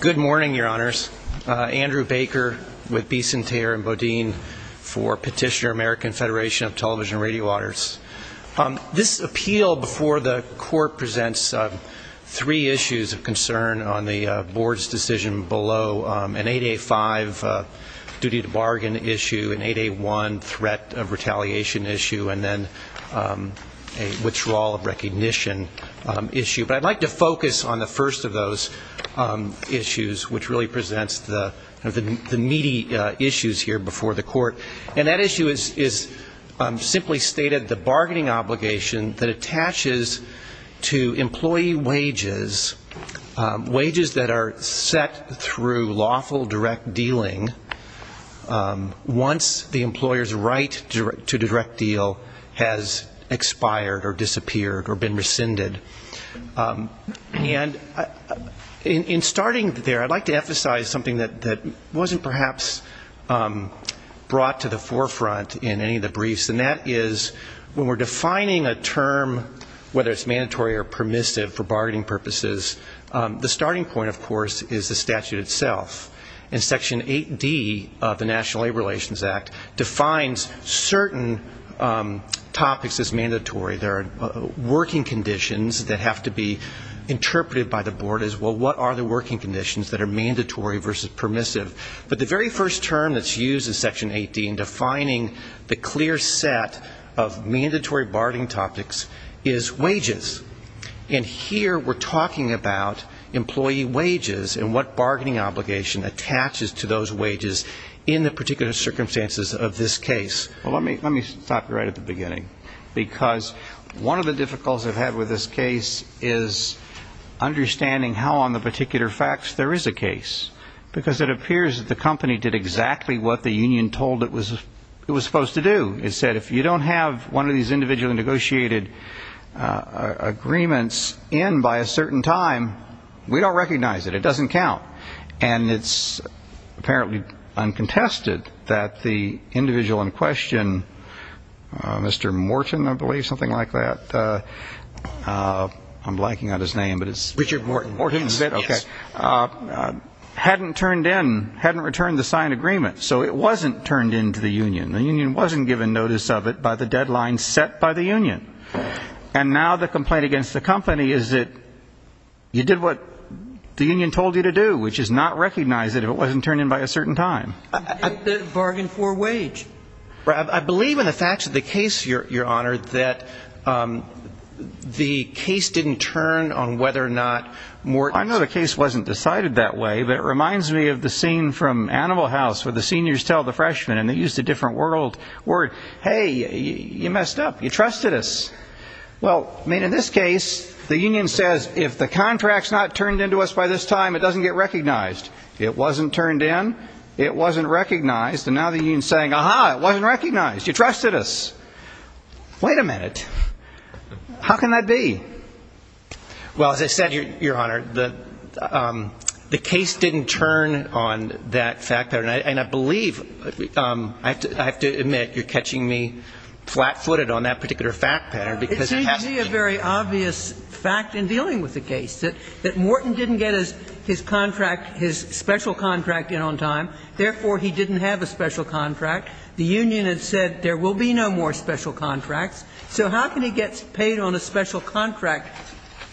Good morning, your honors. Andrew Baker with Bicentaire and Bodine for Petitioner-American Federation of Television and Radio Auditors. This appeal before the court presents three issues of concern on the board's decision below, an 8A5 duty to bargain issue, an 8A1 threat of retaliation issue, and then a withdrawal of recognition issue. But I'd like to focus on the first of those issues, which really presents the meaty issues here before the stated the bargaining obligation that attaches to employee wages, wages that are set through lawful direct dealing once the employer's right to direct deal has expired or disappeared or been rescinded. And in starting there, I'd like to emphasize something that wasn't perhaps brought to the forefront in any of the briefs, and that is when we're defining a term, whether it's mandatory or permissive for bargaining purposes, the starting point, of course, is the statute itself. And Section 8D of the National Labor Relations Act defines certain topics as mandatory. There are working conditions that have to be interpreted by the board as, well, what are the working conditions that are mandatory versus permissive? But the very first term that's used in Section 8D in defining the clear set of mandatory bargaining topics is wages. And here we're talking about employee wages and what bargaining obligation attaches to those wages in the particular circumstances of this case. Well, let me stop you right at the beginning. Because one of the difficulties I've had with this case is understanding how on the particular facts there is a case. Because it appears that the company did exactly what the union told it was supposed to do. It said, if you don't have one of these individually negotiated agreements in by a certain time, we don't recognize it. It doesn't count. And it's apparently uncontested that the individual in question, Mr. Morton, I believe, something like that, I'm blanking on his name, but it's Mr. Morton. Yes. Okay. Hadn't turned in, hadn't returned the signed agreement. So it wasn't turned in to the union. The union wasn't given notice of it by the deadline set by the union. And now the complaint against the company is that you did what the union told you to do, which is not recognize it if it wasn't turned in by a certain time. Bargain for wage. I believe in the facts of the case, Your Honor, that the case didn't turn on whether or not Morton... I know the case wasn't decided that way, but it reminds me of the scene from Animal House where the seniors tell the freshmen, and they used a different word, hey, you messed up. You trusted us. Well, I mean, in this case, the union says, if the contract's not turned into us by this time, it doesn't get recognized. It wasn't turned in. It wasn't recognized. And now the union's saying, aha, it wasn't recognized. You trusted us. Wait a minute. How can that be? Well, as I said, Your Honor, the case didn't turn on that fact pattern. And I believe – I have to admit, you're catching me flat-footed on that particular fact pattern because it hasn't... It seems to be a very obvious fact in dealing with the case, that Morton didn't get his contract, his special contract in on time. Therefore, he didn't have a special contract. The union had said there will be no more special contracts. So how can he get paid on a special contract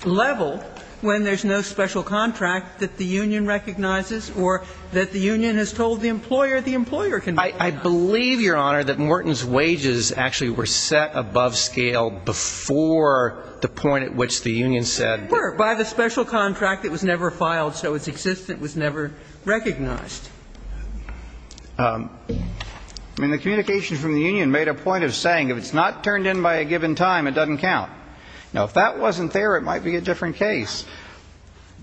level when there's no special contract that the union recognizes or that the union has told the employer the employer can recognize? I believe, Your Honor, that Morton's wages actually were set above scale before the point at which the union said... They were. By the special contract, it was never filed, so its existence was never recognized. I mean, the communication from the union made a point of saying if it's not turned in by a given time, it doesn't count. Now, if that wasn't there, it might be a different case.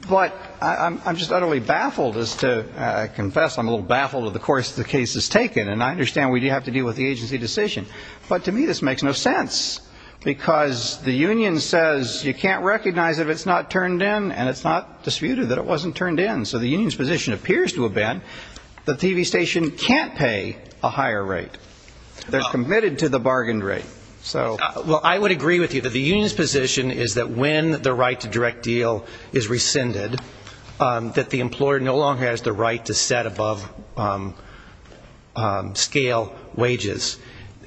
But I'm just utterly baffled as to – I confess I'm a little baffled of the course the case has taken, and I understand we do have to deal with the agency decision. But to me, this makes no sense, because the union says you can't recognize if it's not turned in, and it's not disputed that it wasn't turned in. So the union's position appears to have been the TV station can't pay a higher rate. They're committed to the bargained rate. Well, I would agree with you that the union's position is that when the right to direct deal is rescinded, that the employer no longer has the right to set above scale wages.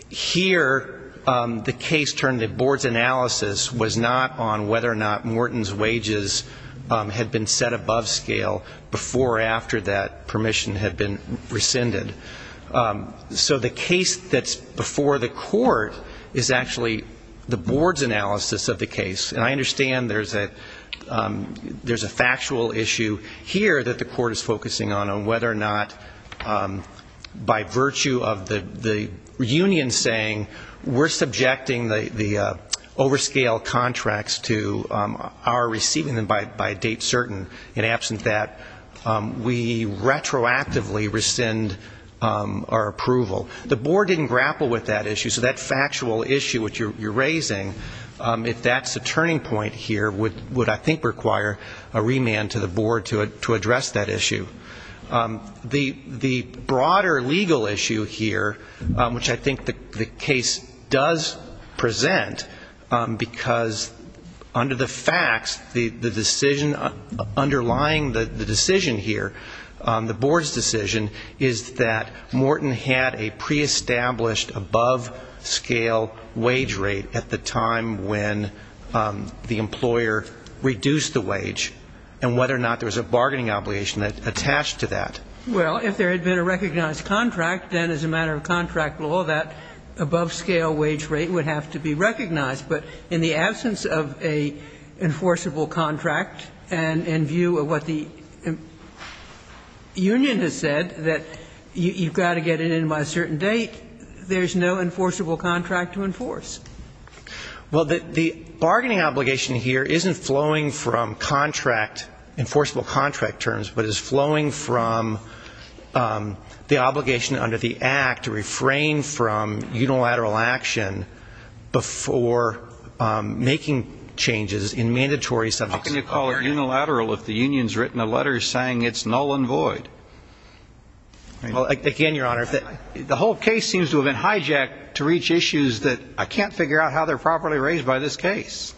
Here, the case turned in, the board's analysis was not on whether or not Morton's wages had been set above scale before or after that permission had been rescinded. So the case that's before the court is actually the board's analysis of the case. And I understand there's a factual issue here that the court is focusing on, on whether or not by virtue of the union saying we're subjecting the overscale contracts to our receiving them by a date certain, in absent that, we retroactively rescind our approval. The board didn't grapple with that issue, so that factual issue which you're raising, if that's a turning point here, would I think require a remand to the board to address that issue. The broader legal issue here, which I think the case does present, because under the facts, the decision underlying the decision here, the board's decision, is that Morton had a preestablished above scale wage rate at the time when the employer reduced the wage, and whether or not there was a bargaining obligation attached to that. Well, if there had been a recognized contract, then as a matter of contract law, that above scale wage rate would have to be recognized. But in the absence of an enforceable contract, and in view of what the union has said, that you've got to get it in by a certain date, there's no enforceable contract to enforce. Well, the bargaining obligation here isn't flowing from contract, enforceable contract terms, but is flowing from the obligation under the Act to refrain from unilateral action before making changes in mandatory subjects. How can you call it unilateral if the union has written a letter saying it's null and void? Well, again, Your Honor, the whole case seems to have been hijacked to reach issues that I can't figure out how they're properly raised by this case.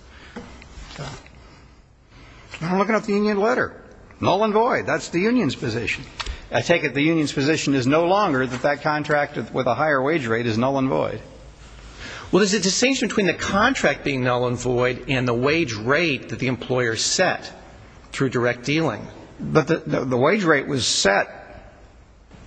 I'm looking at the union letter. Null and void. That's the union's position. I take it the union's position is no longer that that contract with a higher wage rate is null and void. Well, there's a distinction between the contract being null and void and the wage rate that the employer set through direct dealing. But the wage rate was set,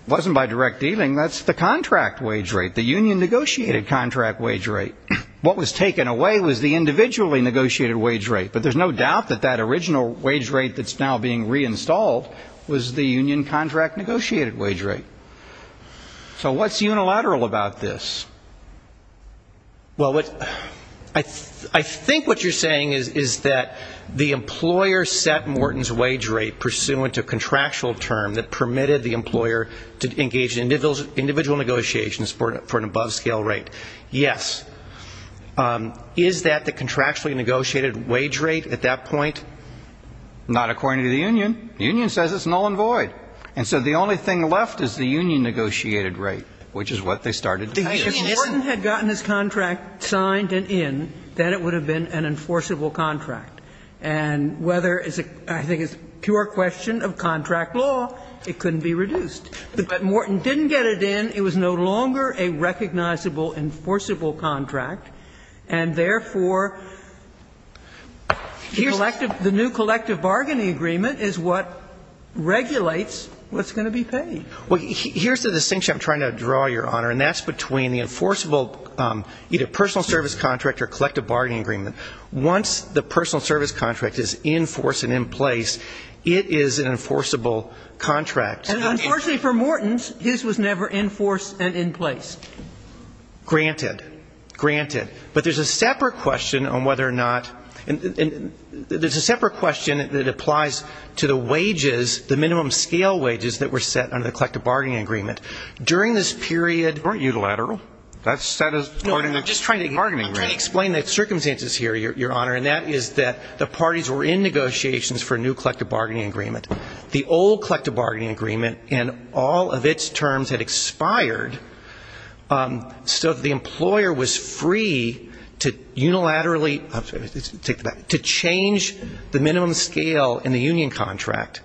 it wasn't by direct dealing, that's the contract wage rate, the union negotiated contract wage rate. What was taken away was the individually negotiated wage rate. But there's no doubt that that original wage rate that's now being reinstalled was the union contract negotiated wage rate. So what's unilateral about this? Well, I think what you're saying is that the employer set Morton's wage rate pursuant to contractual term that permitted the employer to engage in individual negotiations for an above-scale rate. Yes. Is that the contractually negotiated wage rate at that point? Not according to the union. The union says it's null and void. And so the only thing left is the union negotiated rate, which is what they started to pay us. If Morton had gotten his contract signed and in, then it would have been an enforceable contract. And whether it's a – I think it's a pure question of contract law, it couldn't be reduced. But Morton didn't get it in. It was no longer a recognizable enforceable contract. And therefore, the collective – the new collective bargaining agreement is what regulates what's going to be paid. Well, here's the distinction I'm trying to draw, Your Honor, and that's between the enforceable either personal service contract or collective bargaining agreement. Once the personal service contract is in force and in place, it is an enforceable contract. And unfortunately for Morton's, his was never in force and in place. Granted. Granted. But there's a separate question on whether or not – there's a separate question that applies to the wages, the minimum scale wages that were set under the collective bargaining agreement. During this period – Weren't you the lateral? That's – that is part of the bargaining rate. I'm just trying to explain the circumstances here, Your Honor, and that is that the parties were in negotiations for a new collective bargaining agreement. The old collective bargaining agreement and all of its terms had expired so that the employer was free to unilaterally – to change the minimum scale in the union contract.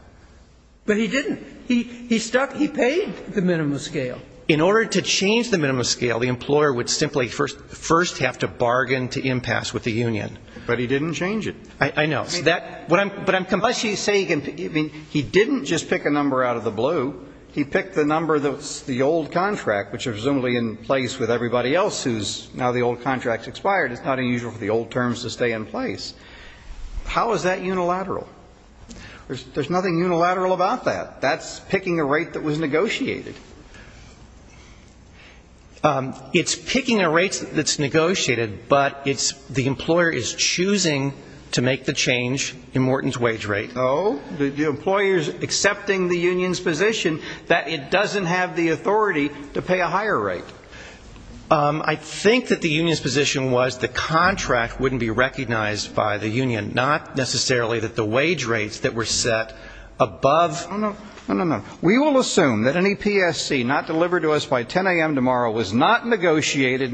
But he didn't. He stuck – he paid the minimum scale. In order to change the minimum scale, the employer would simply first have to bargain to impasse with the union. But he didn't change it. I know. So that – but I'm – Unless you say – I mean, he didn't just pick a number out of the blue. He picked the number that's the old contract, which is presumably in place with everybody else who's – now the old contract's expired. It's not unusual for the old terms to stay in place. How is that unilateral? There's nothing unilateral about that. That's picking a rate that was negotiated. It's picking a rate that's negotiated, but it's – the employer is choosing to Oh? The employer's accepting the union's position that it doesn't have the authority to pay a higher rate. I think that the union's position was the contract wouldn't be recognized by the union, not necessarily that the wage rates that were set above – Oh, no. No, no, no. We will assume that any PSC not delivered to us by 10 a.m. tomorrow was not You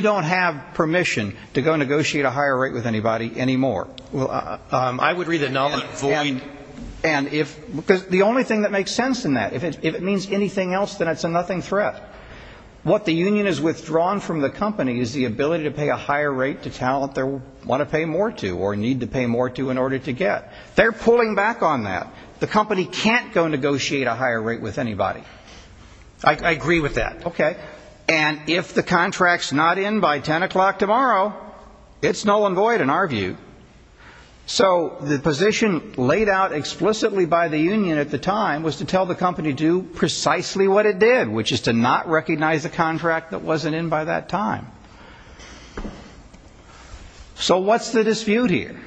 don't have permission to go negotiate a higher rate with anybody anymore. I would read the nomenclature. And if – because the only thing that makes sense in that, if it means anything else, then it's a nothing threat. What the union has withdrawn from the company is the ability to pay a higher rate to talent they want to pay more to or need to pay more to in order to get. They're pulling back on that. The company can't go negotiate a higher rate with anybody. I agree with that. Okay. And if the contract's not in by 10 a.m. tomorrow, it's null and void in our view. So the position laid out explicitly by the union at the time was to tell the company to do precisely what it did, which is to not recognize a contract that wasn't in by that time. So what's the dispute here?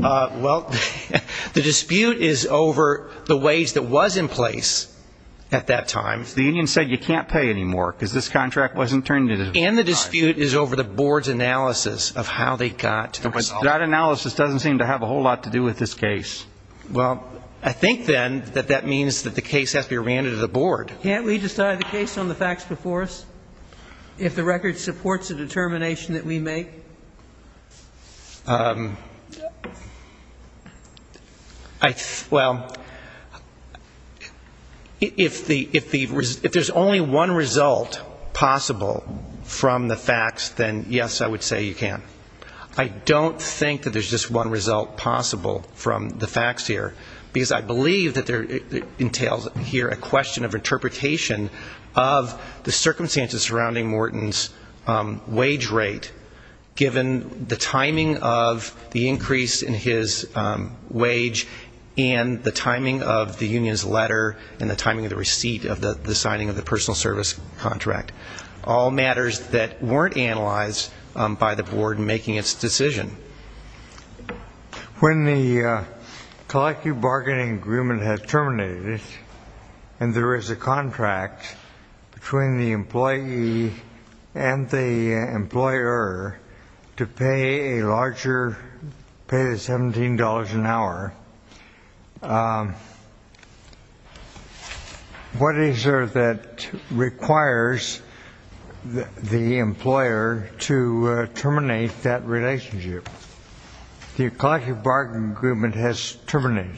Well, the dispute is over the wage that was in place at that time. The union said you can't pay anymore because this contract wasn't turned in at the time. And the dispute is over the board's analysis of how they got to the result. That analysis doesn't seem to have a whole lot to do with this case. Well, I think, then, that that means that the case has to be re-handed to the board. Can't we decide the case on the facts before us if the record supports the determination that we make? Well, if there's only one result possible from the facts, then, yes, I would say you can. I don't think that there's just one result possible from the facts here, because I believe that it entails here a question of interpretation of the contract, given the timing of the increase in his wage and the timing of the union's letter and the timing of the receipt of the signing of the personal service contract. All matters that weren't analyzed by the board in making its decision. When the collective bargaining agreement has terminated and there is a contract between the employee and the employer to pay a larger, pay the $17 an hour, what is there that requires the employer to terminate that relationship? The collective bargaining agreement has terminated.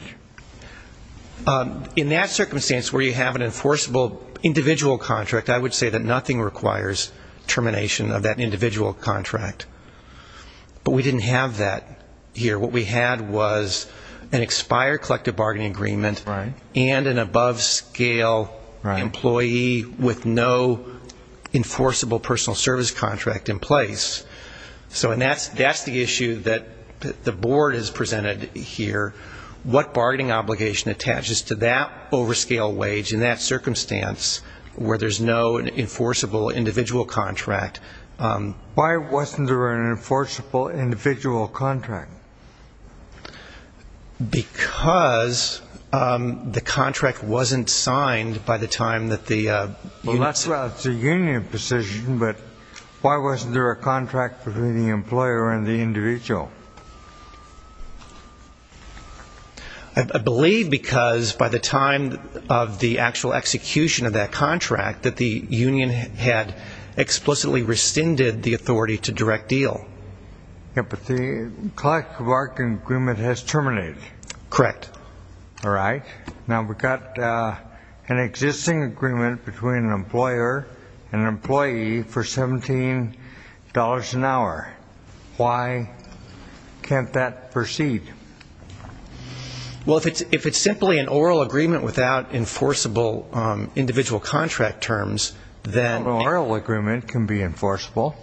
In that circumstance, where you have an enforceable individual contract, I would say that nothing requires termination of that individual contract. But we didn't have that here. What we had was an expired collective bargaining agreement and an above-scale employee with no enforceable personal service contract in place. And that's the issue that the board has presented here, what bargaining obligation attaches to that over-scale wage in that circumstance, where there's no enforceable individual contract. Why wasn't there an enforceable individual contract? Because the contract wasn't signed by the time that the union ---- Why wasn't there a contract between the employer and the individual? I believe because by the time of the actual execution of that contract that the union had explicitly rescinded the authority to direct deal. But the collective bargaining agreement has terminated. Correct. All right. Now, we've got an existing agreement between an employer and an employee for $17 an hour. Why can't that proceed? Well, if it's simply an oral agreement without enforceable individual contract terms, then ---- An oral agreement can be enforceable.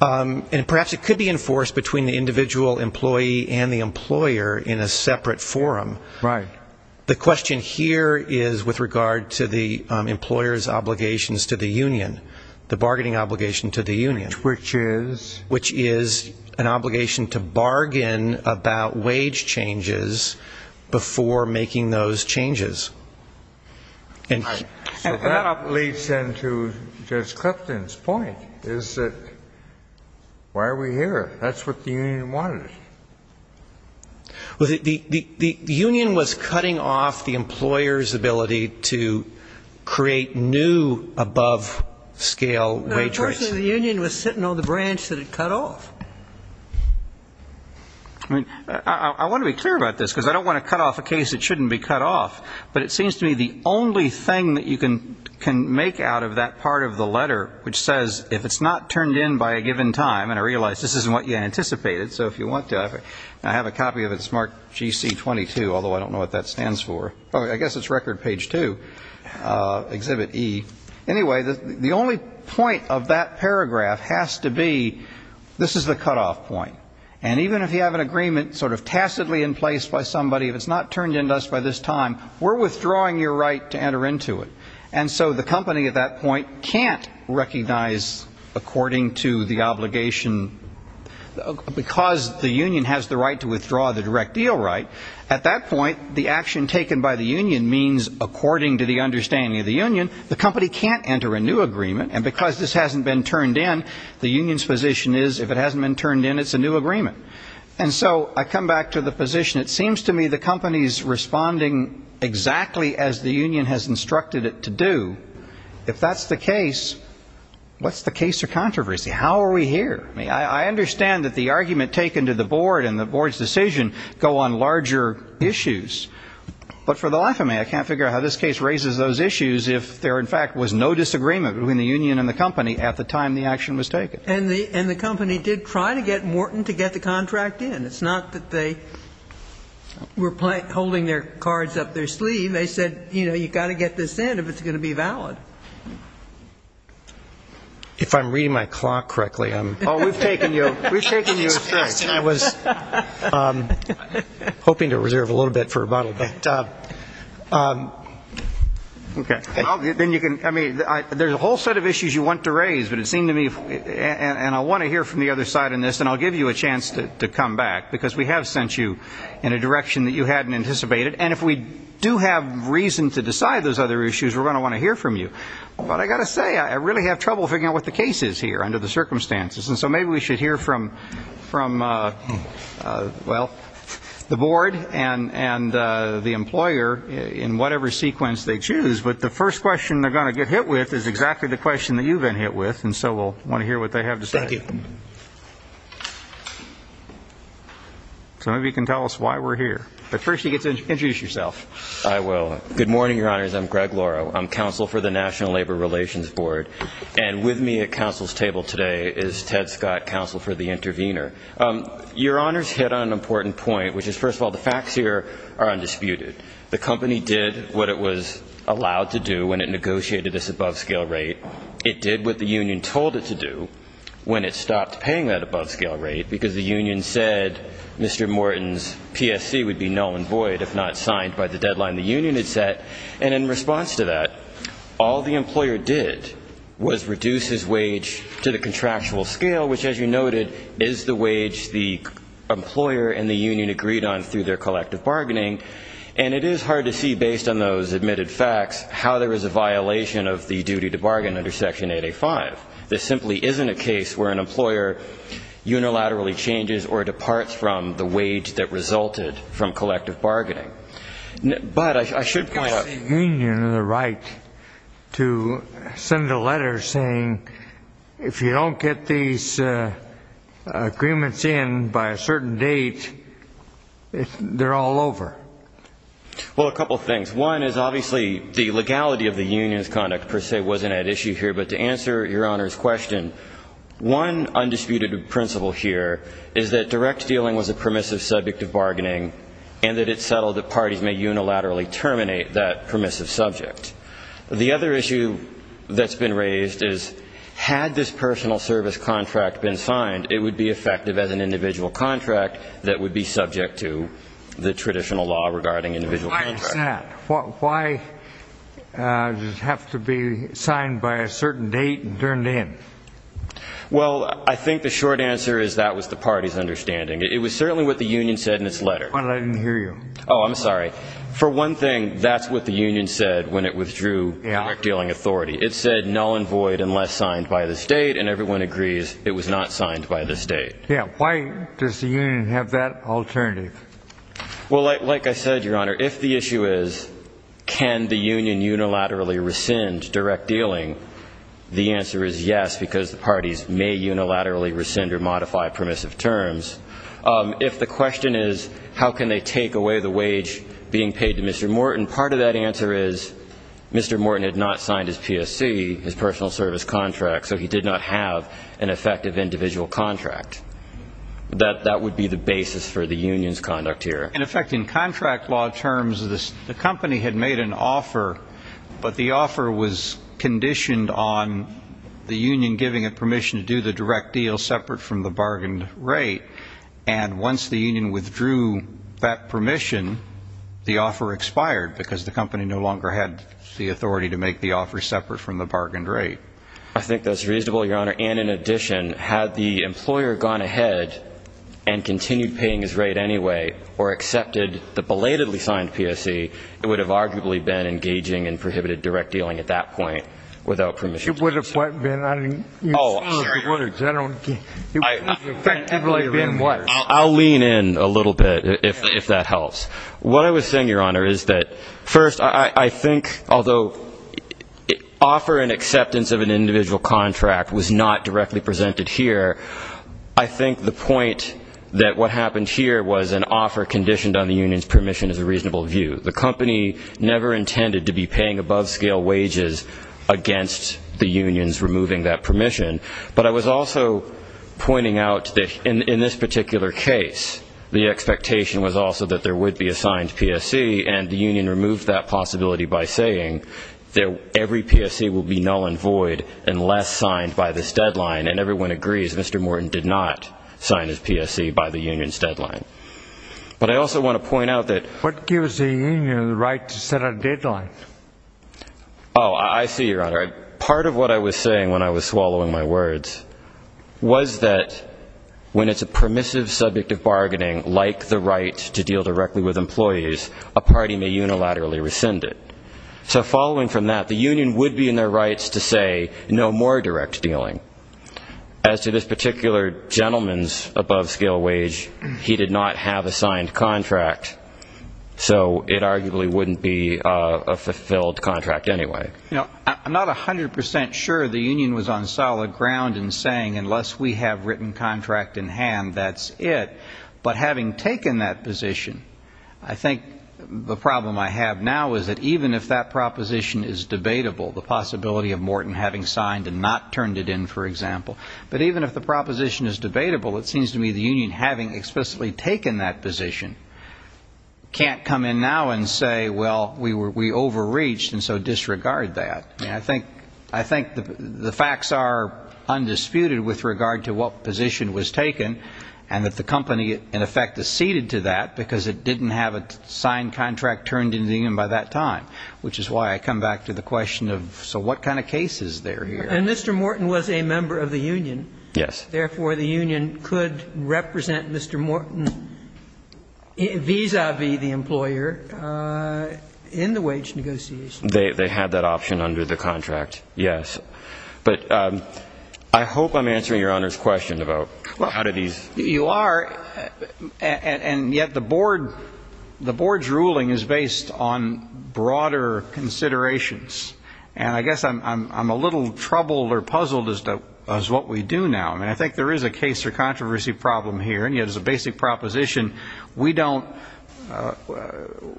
And perhaps it could be enforced between the individual employee and the Right. The question here is with regard to the employer's obligations to the union, the bargaining obligation to the union. Which is? Which is an obligation to bargain about wage changes before making those changes. Right. So that leads into Judge Clifton's point, is that why are we here? That's what the union wanted. Well, the union was cutting off the employer's ability to create new above scale wage rates. No, unfortunately, the union was sitting on the branch that it cut off. I mean, I want to be clear about this, because I don't want to cut off a case that shouldn't be cut off. But it seems to me the only thing that you can make out of that part of the letter, which says if it's not turned in by a given time, and I realize this isn't what you anticipated, so if you want to, I have a copy of it. It's marked GC 22, although I don't know what that stands for. I guess it's record page two, exhibit E. Anyway, the only point of that paragraph has to be this is the cutoff point. And even if you have an agreement sort of tacitly in place by somebody, if it's not turned in to us by this time, we're withdrawing your right to enter into it. And so the company at that point can't recognize according to the obligation because the union has the right to withdraw the direct deal right. At that point, the action taken by the union means according to the understanding of the union, the company can't enter a new agreement. And because this hasn't been turned in, the union's position is if it hasn't been turned in, it's a new agreement. And so I come back to the position, it seems to me the company's responding exactly as the union has instructed it to do. If that's the case, what's the case of controversy? How are we here? I mean, I understand that the argument taken to the board and the board's decision go on larger issues. But for the life of me, I can't figure out how this case raises those issues if there, in fact, was no disagreement between the union and the company at the time the action was taken. And the company did try to get Morton to get the contract in. It's not that they were holding their cards up their sleeve. They said, you know, you've got to get this in if it's going to be valid. If I'm reading my clock correctly. Oh, we've taken you astray. I was hoping to reserve a little bit for rebuttal. Okay. Then you can, I mean, there's a whole set of issues you want to raise, but it seems to me, and I want to hear from the other side on this, and I'll give you a chance to come back, because we have sent you in a direction that you hadn't anticipated. And if we do have reason to decide those other issues, we're going to want to hear from you. But I've got to say, I really have trouble figuring out what the case is here under the circumstances. And so maybe we should hear from, well, the board and the employer in whatever sequence they choose. But the first question they're going to get hit with is exactly the question Thank you. So maybe you can tell us why we're here. But first you get to introduce yourself. I will. Good morning, Your Honors. I'm Greg Lauro. I'm counsel for the National Labor Relations Board. And with me at counsel's table today is Ted Scott, counsel for the intervener. Your Honors hit on an important point, which is, first of all, the facts here are undisputed. The company did what it was allowed to do when it negotiated this above-scale rate. It did what the union told it to do when it stopped paying that above-scale rate, because the union said Mr. Morton's PSC would be null and void if not signed by the deadline the union had set. And in response to that, all the employer did was reduce his wage to the contractual scale, which, as you noted, is the wage the employer and the union agreed on through their collective bargaining. And it is hard to see, based on those admitted facts, how there is a This simply isn't a case where an employer unilaterally changes or departs from the wage that resulted from collective bargaining. But I should point out the union of the right to send a letter saying if you don't get these agreements in by a certain date, they're all over. Well, a couple of things. One is obviously the legality of the union's conduct per se wasn't at issue here. But to answer Your Honor's question, one undisputed principle here is that direct dealing was a permissive subject of bargaining and that it settled that parties may unilaterally terminate that permissive subject. The other issue that's been raised is had this personal service contract been signed, it would be effective as an individual contract that would be subject to the traditional law regarding individual contracts. Why is that? Why does it have to be signed by a certain date and turned in? Well, I think the short answer is that was the party's understanding. It was certainly what the union said in its letter. Why didn't I hear you? Oh, I'm sorry. For one thing, that's what the union said when it withdrew direct dealing authority. It said null and void unless signed by the state, and everyone agrees it was not signed by the state. Yeah. Why does the union have that alternative? Well, like I said, Your Honor, if the issue is can the union unilaterally rescind direct dealing, the answer is yes because the parties may unilaterally rescind or modify permissive terms. If the question is how can they take away the wage being paid to Mr. Morton, part of that answer is Mr. Morton had not signed his PSC, his personal service contract, so he did not have an effective individual contract. That would be the basis for the union's conduct here. In effect, in contract law terms, the company had made an offer, but the offer was conditioned on the union giving it permission to do the direct deal separate from the bargained rate. And once the union withdrew that permission, the offer expired because the company no longer had the authority to make the offer separate from the bargained rate. I think that's reasonable, Your Honor. And in addition, had the employer gone ahead and continued paying his rate anyway or accepted the belatedly signed PSC, it would have arguably been engaging in prohibited direct dealing at that point without permission to do so. It would have what been? I didn't hear any of the words. I don't get it. It would have effectively been what? I'll lean in a little bit if that helps. What I was saying, Your Honor, is that first, I think although offer and not directly presented here, I think the point that what happened here was an offer conditioned on the union's permission is a reasonable view. The company never intended to be paying above-scale wages against the unions removing that permission. But I was also pointing out that in this particular case, the expectation was also that there would be a signed PSC, and the union removed that possibility by saying that every PSC would be null and void unless signed by this deadline. And everyone agrees, Mr. Morton did not sign his PSC by the union's deadline. But I also want to point out that. What gives the union the right to set a deadline? Oh, I see, Your Honor. Part of what I was saying when I was swallowing my words was that when it's a permissive subject of bargaining like the right to deal directly with employees, a party may unilaterally rescind it. So following from that, the union would be in their rights to say no more direct dealing. As to this particular gentleman's above-scale wage, he did not have a signed contract, so it arguably wouldn't be a fulfilled contract anyway. You know, I'm not 100 percent sure the union was on solid ground in saying unless we have written contract in hand, that's it. But having taken that position, I think the problem I have now is that even if that proposition is debatable, the possibility of Morton having signed and not turned it in, for example, but even if the proposition is debatable, it seems to me the union, having explicitly taken that position, can't come in now and say, well, we overreached and so disregard that. I think the facts are undisputed with regard to what position was taken and that the company, in effect, is ceded to that because it didn't have a signed contract turned into the union by that time, which is why I come back to the question of so what kind of case is there here? And Mr. Morton was a member of the union. Yes. Therefore, the union could represent Mr. Morton vis-à-vis the employer in the wage negotiations. They had that option under the contract, yes. But I hope I'm answering Your Honor's question about how do these You are, and yet the board's ruling is based on broader considerations. And I guess I'm a little troubled or puzzled as to what we do now. I mean, I think there is a case or controversy problem here, and yet as a basic proposition, we don't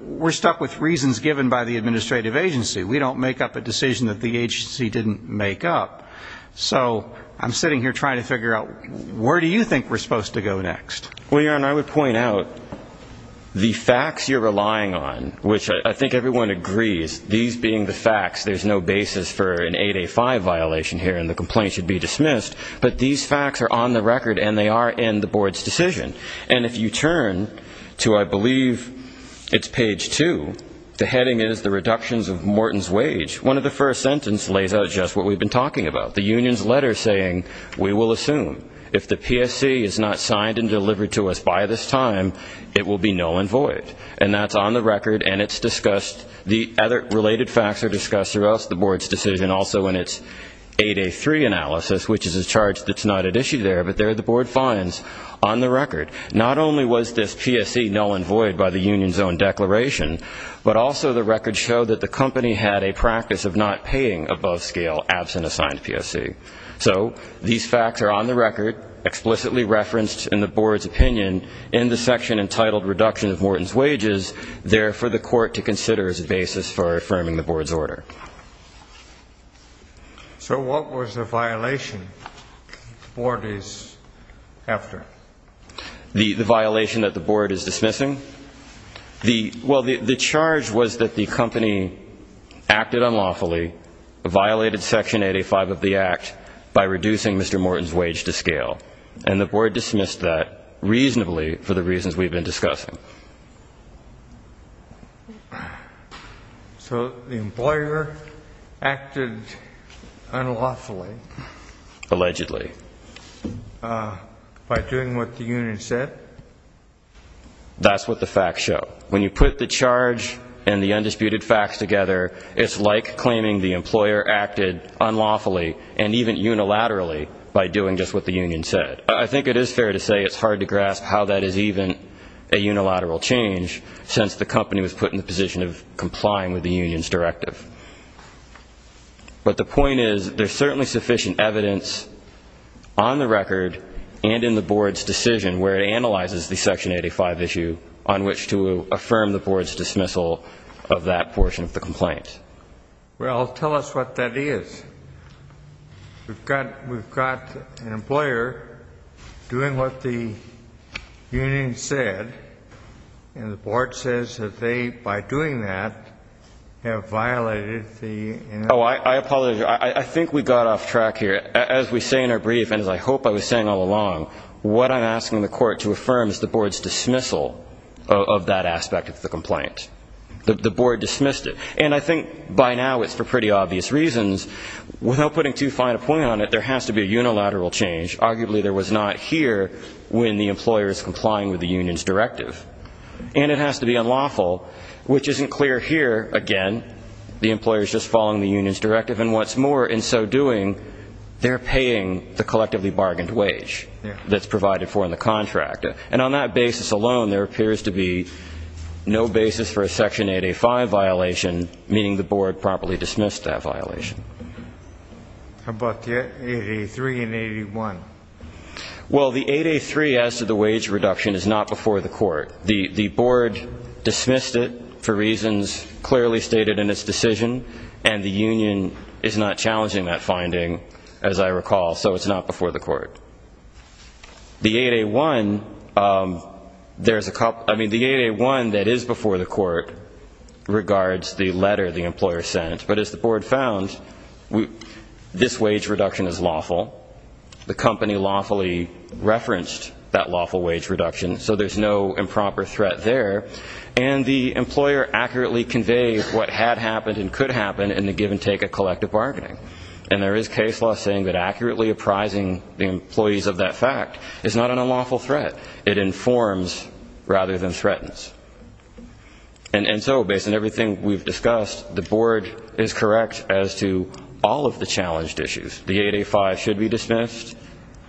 we're stuck with reasons given by the administrative agency. We don't make up a decision that the agency didn't make up. So I'm sitting here trying to figure out where do you think we're supposed to go next? Well, Your Honor, I would point out the facts you're relying on, which I think everyone agrees, these being the facts, there's no basis for an 8A5 violation here and the complaint should be dismissed, but these facts are on the record and they are in the board's decision. And if you turn to I believe it's page two, the heading is the reductions of Morton's wage. One of the first sentences lays out just what we've been talking about, the union's letter saying we will assume if the PSC is not signed and delivered to us by this time, it will be null and void. And that's on the record and it's discussed. The other related facts are discussed throughout the board's decision also in its 8A3 analysis, which is a charge that's not at issue there, but there are the board fines on the record. Not only was this PSC null and void by the union's own declaration, but also the record showed that the company had a practice of not paying above scale absent a signed PSC. So these facts are on the record, explicitly referenced in the board's opinion in the section entitled reduction of Morton's wages, there for the court to consider as a basis for affirming the board's order. So what was the violation the board is after? The violation that the board is dismissing? Well, the charge was that the company acted unlawfully, violated section 85 of the act by reducing Mr. Morton's wage to scale. And the board dismissed that reasonably for the reasons we've been discussing. So the employer acted unlawfully. Allegedly. By doing what the union said? That's what the facts show. When you put the charge and the undisputed facts together, it's like claiming the employer acted unlawfully and even unilaterally by doing just what the union said. I think it is fair to say it's hard to grasp how that is even a unilateral change since the company was put in the position of complying with the union's directive. But the point is there's certainly sufficient evidence on the record and in the section 85 issue on which to affirm the board's dismissal of that portion of the complaint. Well, tell us what that is. We've got an employer doing what the union said. And the board says that they, by doing that, have violated the union's directive. Oh, I apologize. I think we got off track here. As we say in our brief and as I hope I was saying all along, what I'm asking the board to affirm is the board's dismissal of that aspect of the complaint. The board dismissed it. And I think by now it's for pretty obvious reasons. Without putting too fine a point on it, there has to be a unilateral change. Arguably there was not here when the employer is complying with the union's directive. And it has to be unlawful, which isn't clear here. Again, the employer is just following the union's directive. And what's more, in so doing, they're paying the collectively bargained wage that's And on that basis alone, there appears to be no basis for a Section 8A-5 violation, meaning the board properly dismissed that violation. How about the 8A-3 and 8A-1? Well, the 8A-3 as to the wage reduction is not before the court. The board dismissed it for reasons clearly stated in its decision. And the union is not challenging that finding, as I recall, so it's not before the court. The 8A-1, there's a couple, I mean, the 8A-1 that is before the court regards the letter the employer sent. But as the board found, this wage reduction is lawful. The company lawfully referenced that lawful wage reduction, so there's no improper threat there. And the employer accurately conveys what had happened and could happen in the give and take of collective bargaining. And there is case law saying that accurately apprising the employees of that fact is not an unlawful threat. It informs rather than threatens. And so based on everything we've discussed, the board is correct as to all of the challenged issues. The 8A-5 should be dismissed.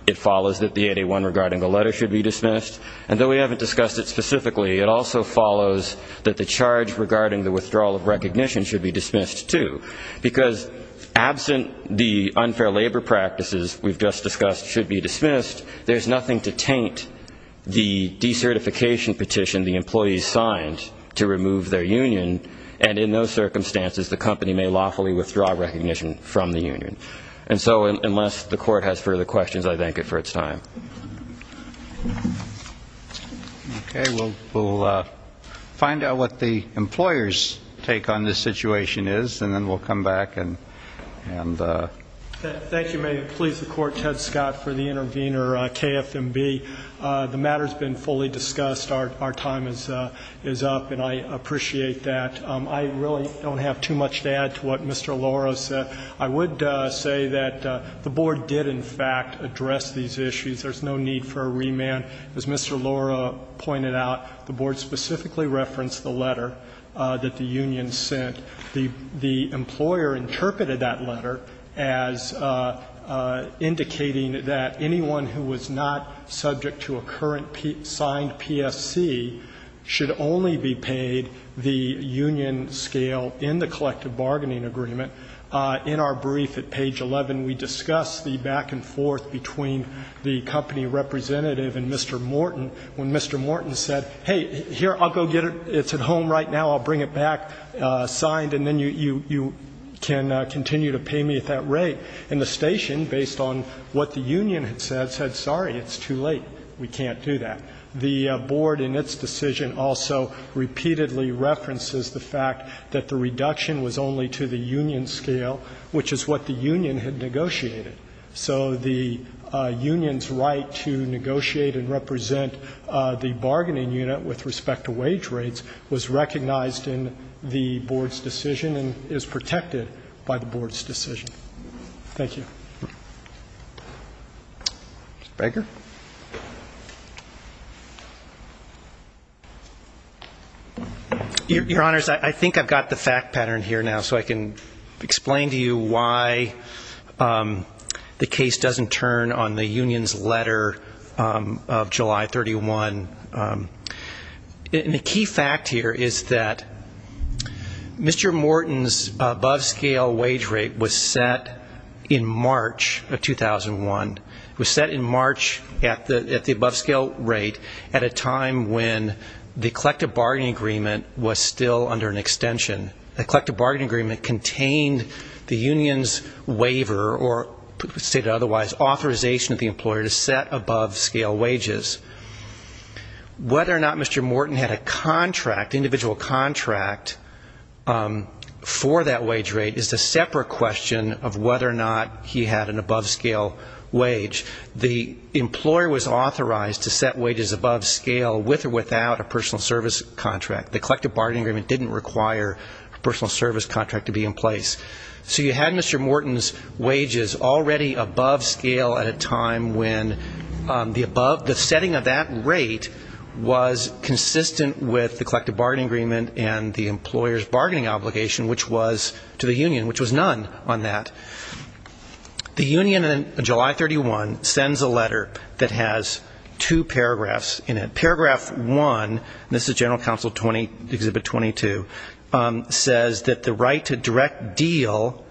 It follows that the 8A-1 regarding the letter should be dismissed. And though we haven't discussed it specifically, it also follows that the charge regarding the withdrawal of recognition should be dismissed too. Because absent the unfair labor practices we've just discussed should be dismissed, there's nothing to taint the decertification petition the employees signed to remove their union. And in those circumstances, the company may lawfully withdraw recognition from the union. And so unless the court has further questions, I thank it for its time. Okay. We'll find out what the employer's take on this situation is, and then we'll come back. Thank you. May it please the Court, Ted Scott for the intervener, KFMB. The matter has been fully discussed. Our time is up, and I appreciate that. I really don't have too much to add to what Mr. Loro said. I would say that the Board did, in fact, address these issues. There's no need for a remand. As Mr. Loro pointed out, the Board specifically referenced the letter that the union sent. The employer interpreted that letter as indicating that anyone who was not subject to a current signed PSC should only be paid the union scale in the collective bargaining agreement. In our brief at page 11, we discuss the back and forth between the company representative and Mr. Morton when Mr. Morton said, hey, here, I'll go get it. It's at home right now. I'll bring it back signed, and then you can continue to pay me at that rate. And the station, based on what the union had said, said, sorry, it's too late. We can't do that. The Board, in its decision, also repeatedly references the fact that the reduction was only to the union scale, which is what the union had negotiated. So the union's right to negotiate and represent the bargaining unit with respect to wage rates was recognized in the Board's decision and is protected by the Board's decision. Thank you. Mr. Baker? Your Honors, I think I've got the fact pattern here now, so I can explain to you why the case doesn't turn on the union's letter of July 31. And the key fact here is that Mr. Morton's above-scale wage rate was set in March of 2001. It was set in March at the above-scale rate at a time when the collective bargaining agreement was still under an extension. The collective bargaining agreement contained the union's waiver, or stated otherwise, authorization of the employer to set above-scale wages. Whether or not Mr. Morton had a contract, individual contract, for that wage rate is a separate question of whether or not he had an above-scale wage. The employer was authorized to set wages above scale with or without a personal service contract. The collective bargaining agreement didn't require a personal service contract to be in place. So you had Mr. Morton's wages already above scale at a time when the above, the setting of that rate was consistent with the collective bargaining agreement and the employer's bargaining obligation, which was to the union, which was none on that. The union in July 31 sends a letter that has two paragraphs in it. Paragraph 1, and this is General Counsel Exhibit 22, says that the right to direct deal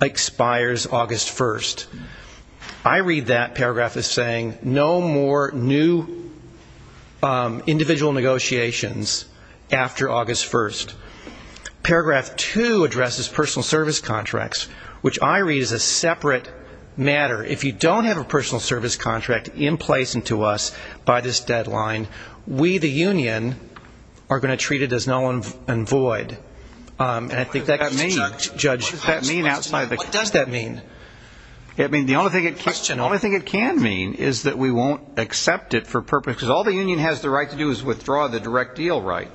expires August 1st. I read that paragraph as saying no more new individual negotiations after August 1st. Paragraph 2 addresses personal service contracts, which I read as a separate matter. If you don't have a personal service contract in place unto us by this deadline, we, the union, are going to treat it as null and void. And I think that can be judged. What does that mean? I mean, the only thing it can mean is that we won't accept it for purpose, because all the union has the right to do is withdraw the direct deal right.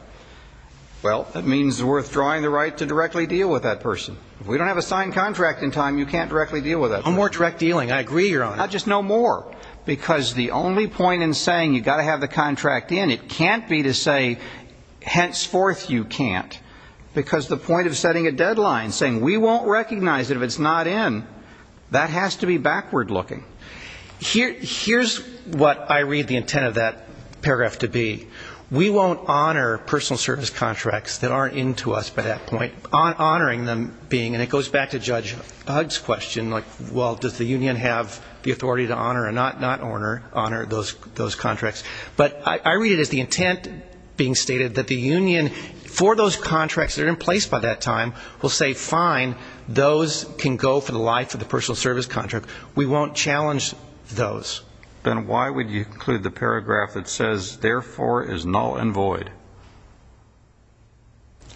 Well, that means we're withdrawing the right to directly deal with that person. If we don't have a signed contract in time, you can't directly deal with that person. No more direct dealing. I agree, Your Honor. Just no more, because the only point in saying you've got to have the contract in, it can't be to say henceforth you can't, because the point of setting a deadline, saying we won't recognize it if it's not in, that has to be backward looking. Here's what I read the intent of that paragraph to be. We won't honor personal service contracts that aren't in to us by that point, honoring them being, and it goes back to Judge Hugg's question, like, well, does the union have the authority to honor or not honor those contracts? But I read it as the intent being stated that the union, for those contracts that are in place by that time, will say, fine, those can go for the life of the personal service contract. We won't challenge those. Then why would you include the paragraph that says, therefore, is null and void?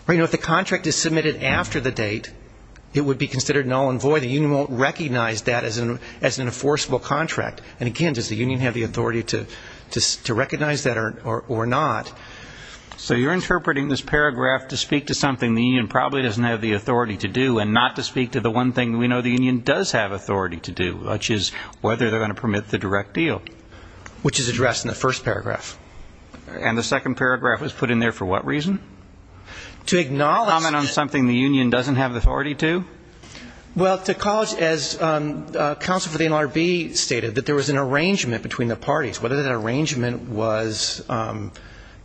If the contract is submitted after the date, it would be considered null and void. The union won't recognize that as an enforceable contract. And, again, does the union have the authority to recognize that or not? So you're interpreting this paragraph to speak to something the union probably doesn't have the authority to do and not to speak to the one thing we know the union does have authority to do, which is whether they're going to permit the direct deal, which is addressed in the first paragraph. And the second paragraph was put in there for what reason? To acknowledge that. Comment on something the union doesn't have the authority to? Well, to college, as counsel for the NLRB stated, that there was an arrangement between the parties. Whether that arrangement was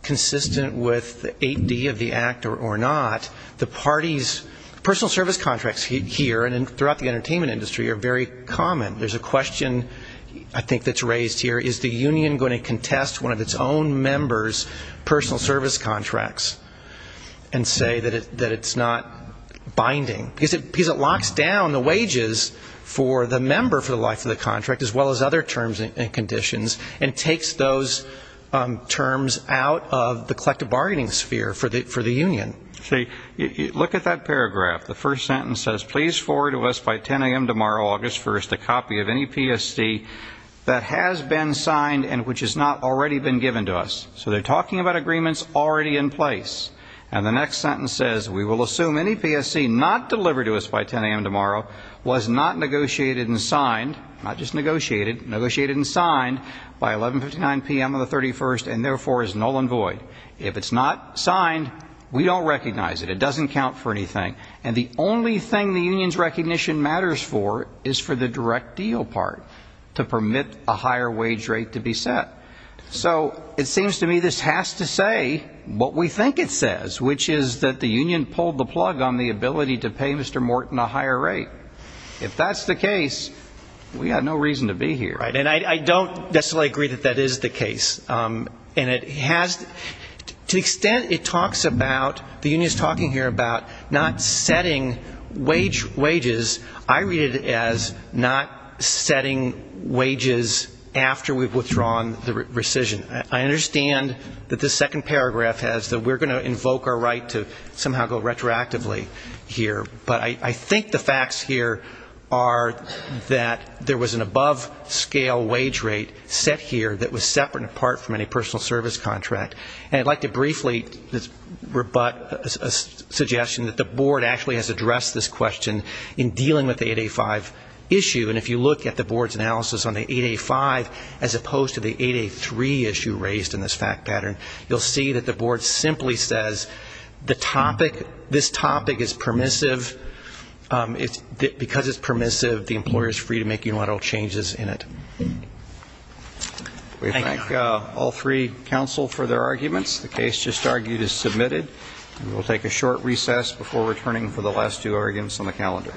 consistent with the 8D of the Act or not, the parties' personal service contracts here and throughout the entertainment industry are very common. There's a question, I think, that's raised here. Is the union going to contest one of its own members' personal service contracts and say that it's not binding? Because it locks down the wages for the member for the life of the contract, as well as other terms and conditions, and takes those terms out of the collective bargaining sphere for the union. See, look at that paragraph. The first sentence says, by 10 a.m. tomorrow, August 1st, a copy of any PSC that has been signed and which has not already been given to us. So they're talking about agreements already in place. And the next sentence says, If it's not signed, we don't recognize it. It doesn't count for anything. And the only thing the union's recognition matters for is for the direct deal part, to permit a higher wage rate to be set. So it seems to me this has to say what we think it says, which is that the union pulled the plug on the ability to pay Mr. Morton a higher rate. If that's the case, we've got no reason to be here. And I don't necessarily agree that that is the case. And it has to the extent it talks about, the union is talking here about not setting wages, I read it as not setting wages after we've withdrawn the rescission. I understand that the second paragraph has that we're going to invoke our right to somehow go retroactively here. But I think the facts here are that there was an above-scale wage rate set here that was separate and apart from any personal service contract. And I'd like to briefly rebut a suggestion that the board actually has addressed this question in dealing with the 8A5 issue. And if you look at the board's analysis on the 8A5, as opposed to the 8A3 issue raised in this fact pattern, you'll see that the board simply says the topic, this topic is permissive. Because it's permissive, the employer is free to make unilateral changes in it. We thank all three counsel for their arguments. The case just argued is submitted. And we'll take a short recess before returning for the last two arguments on the calendar.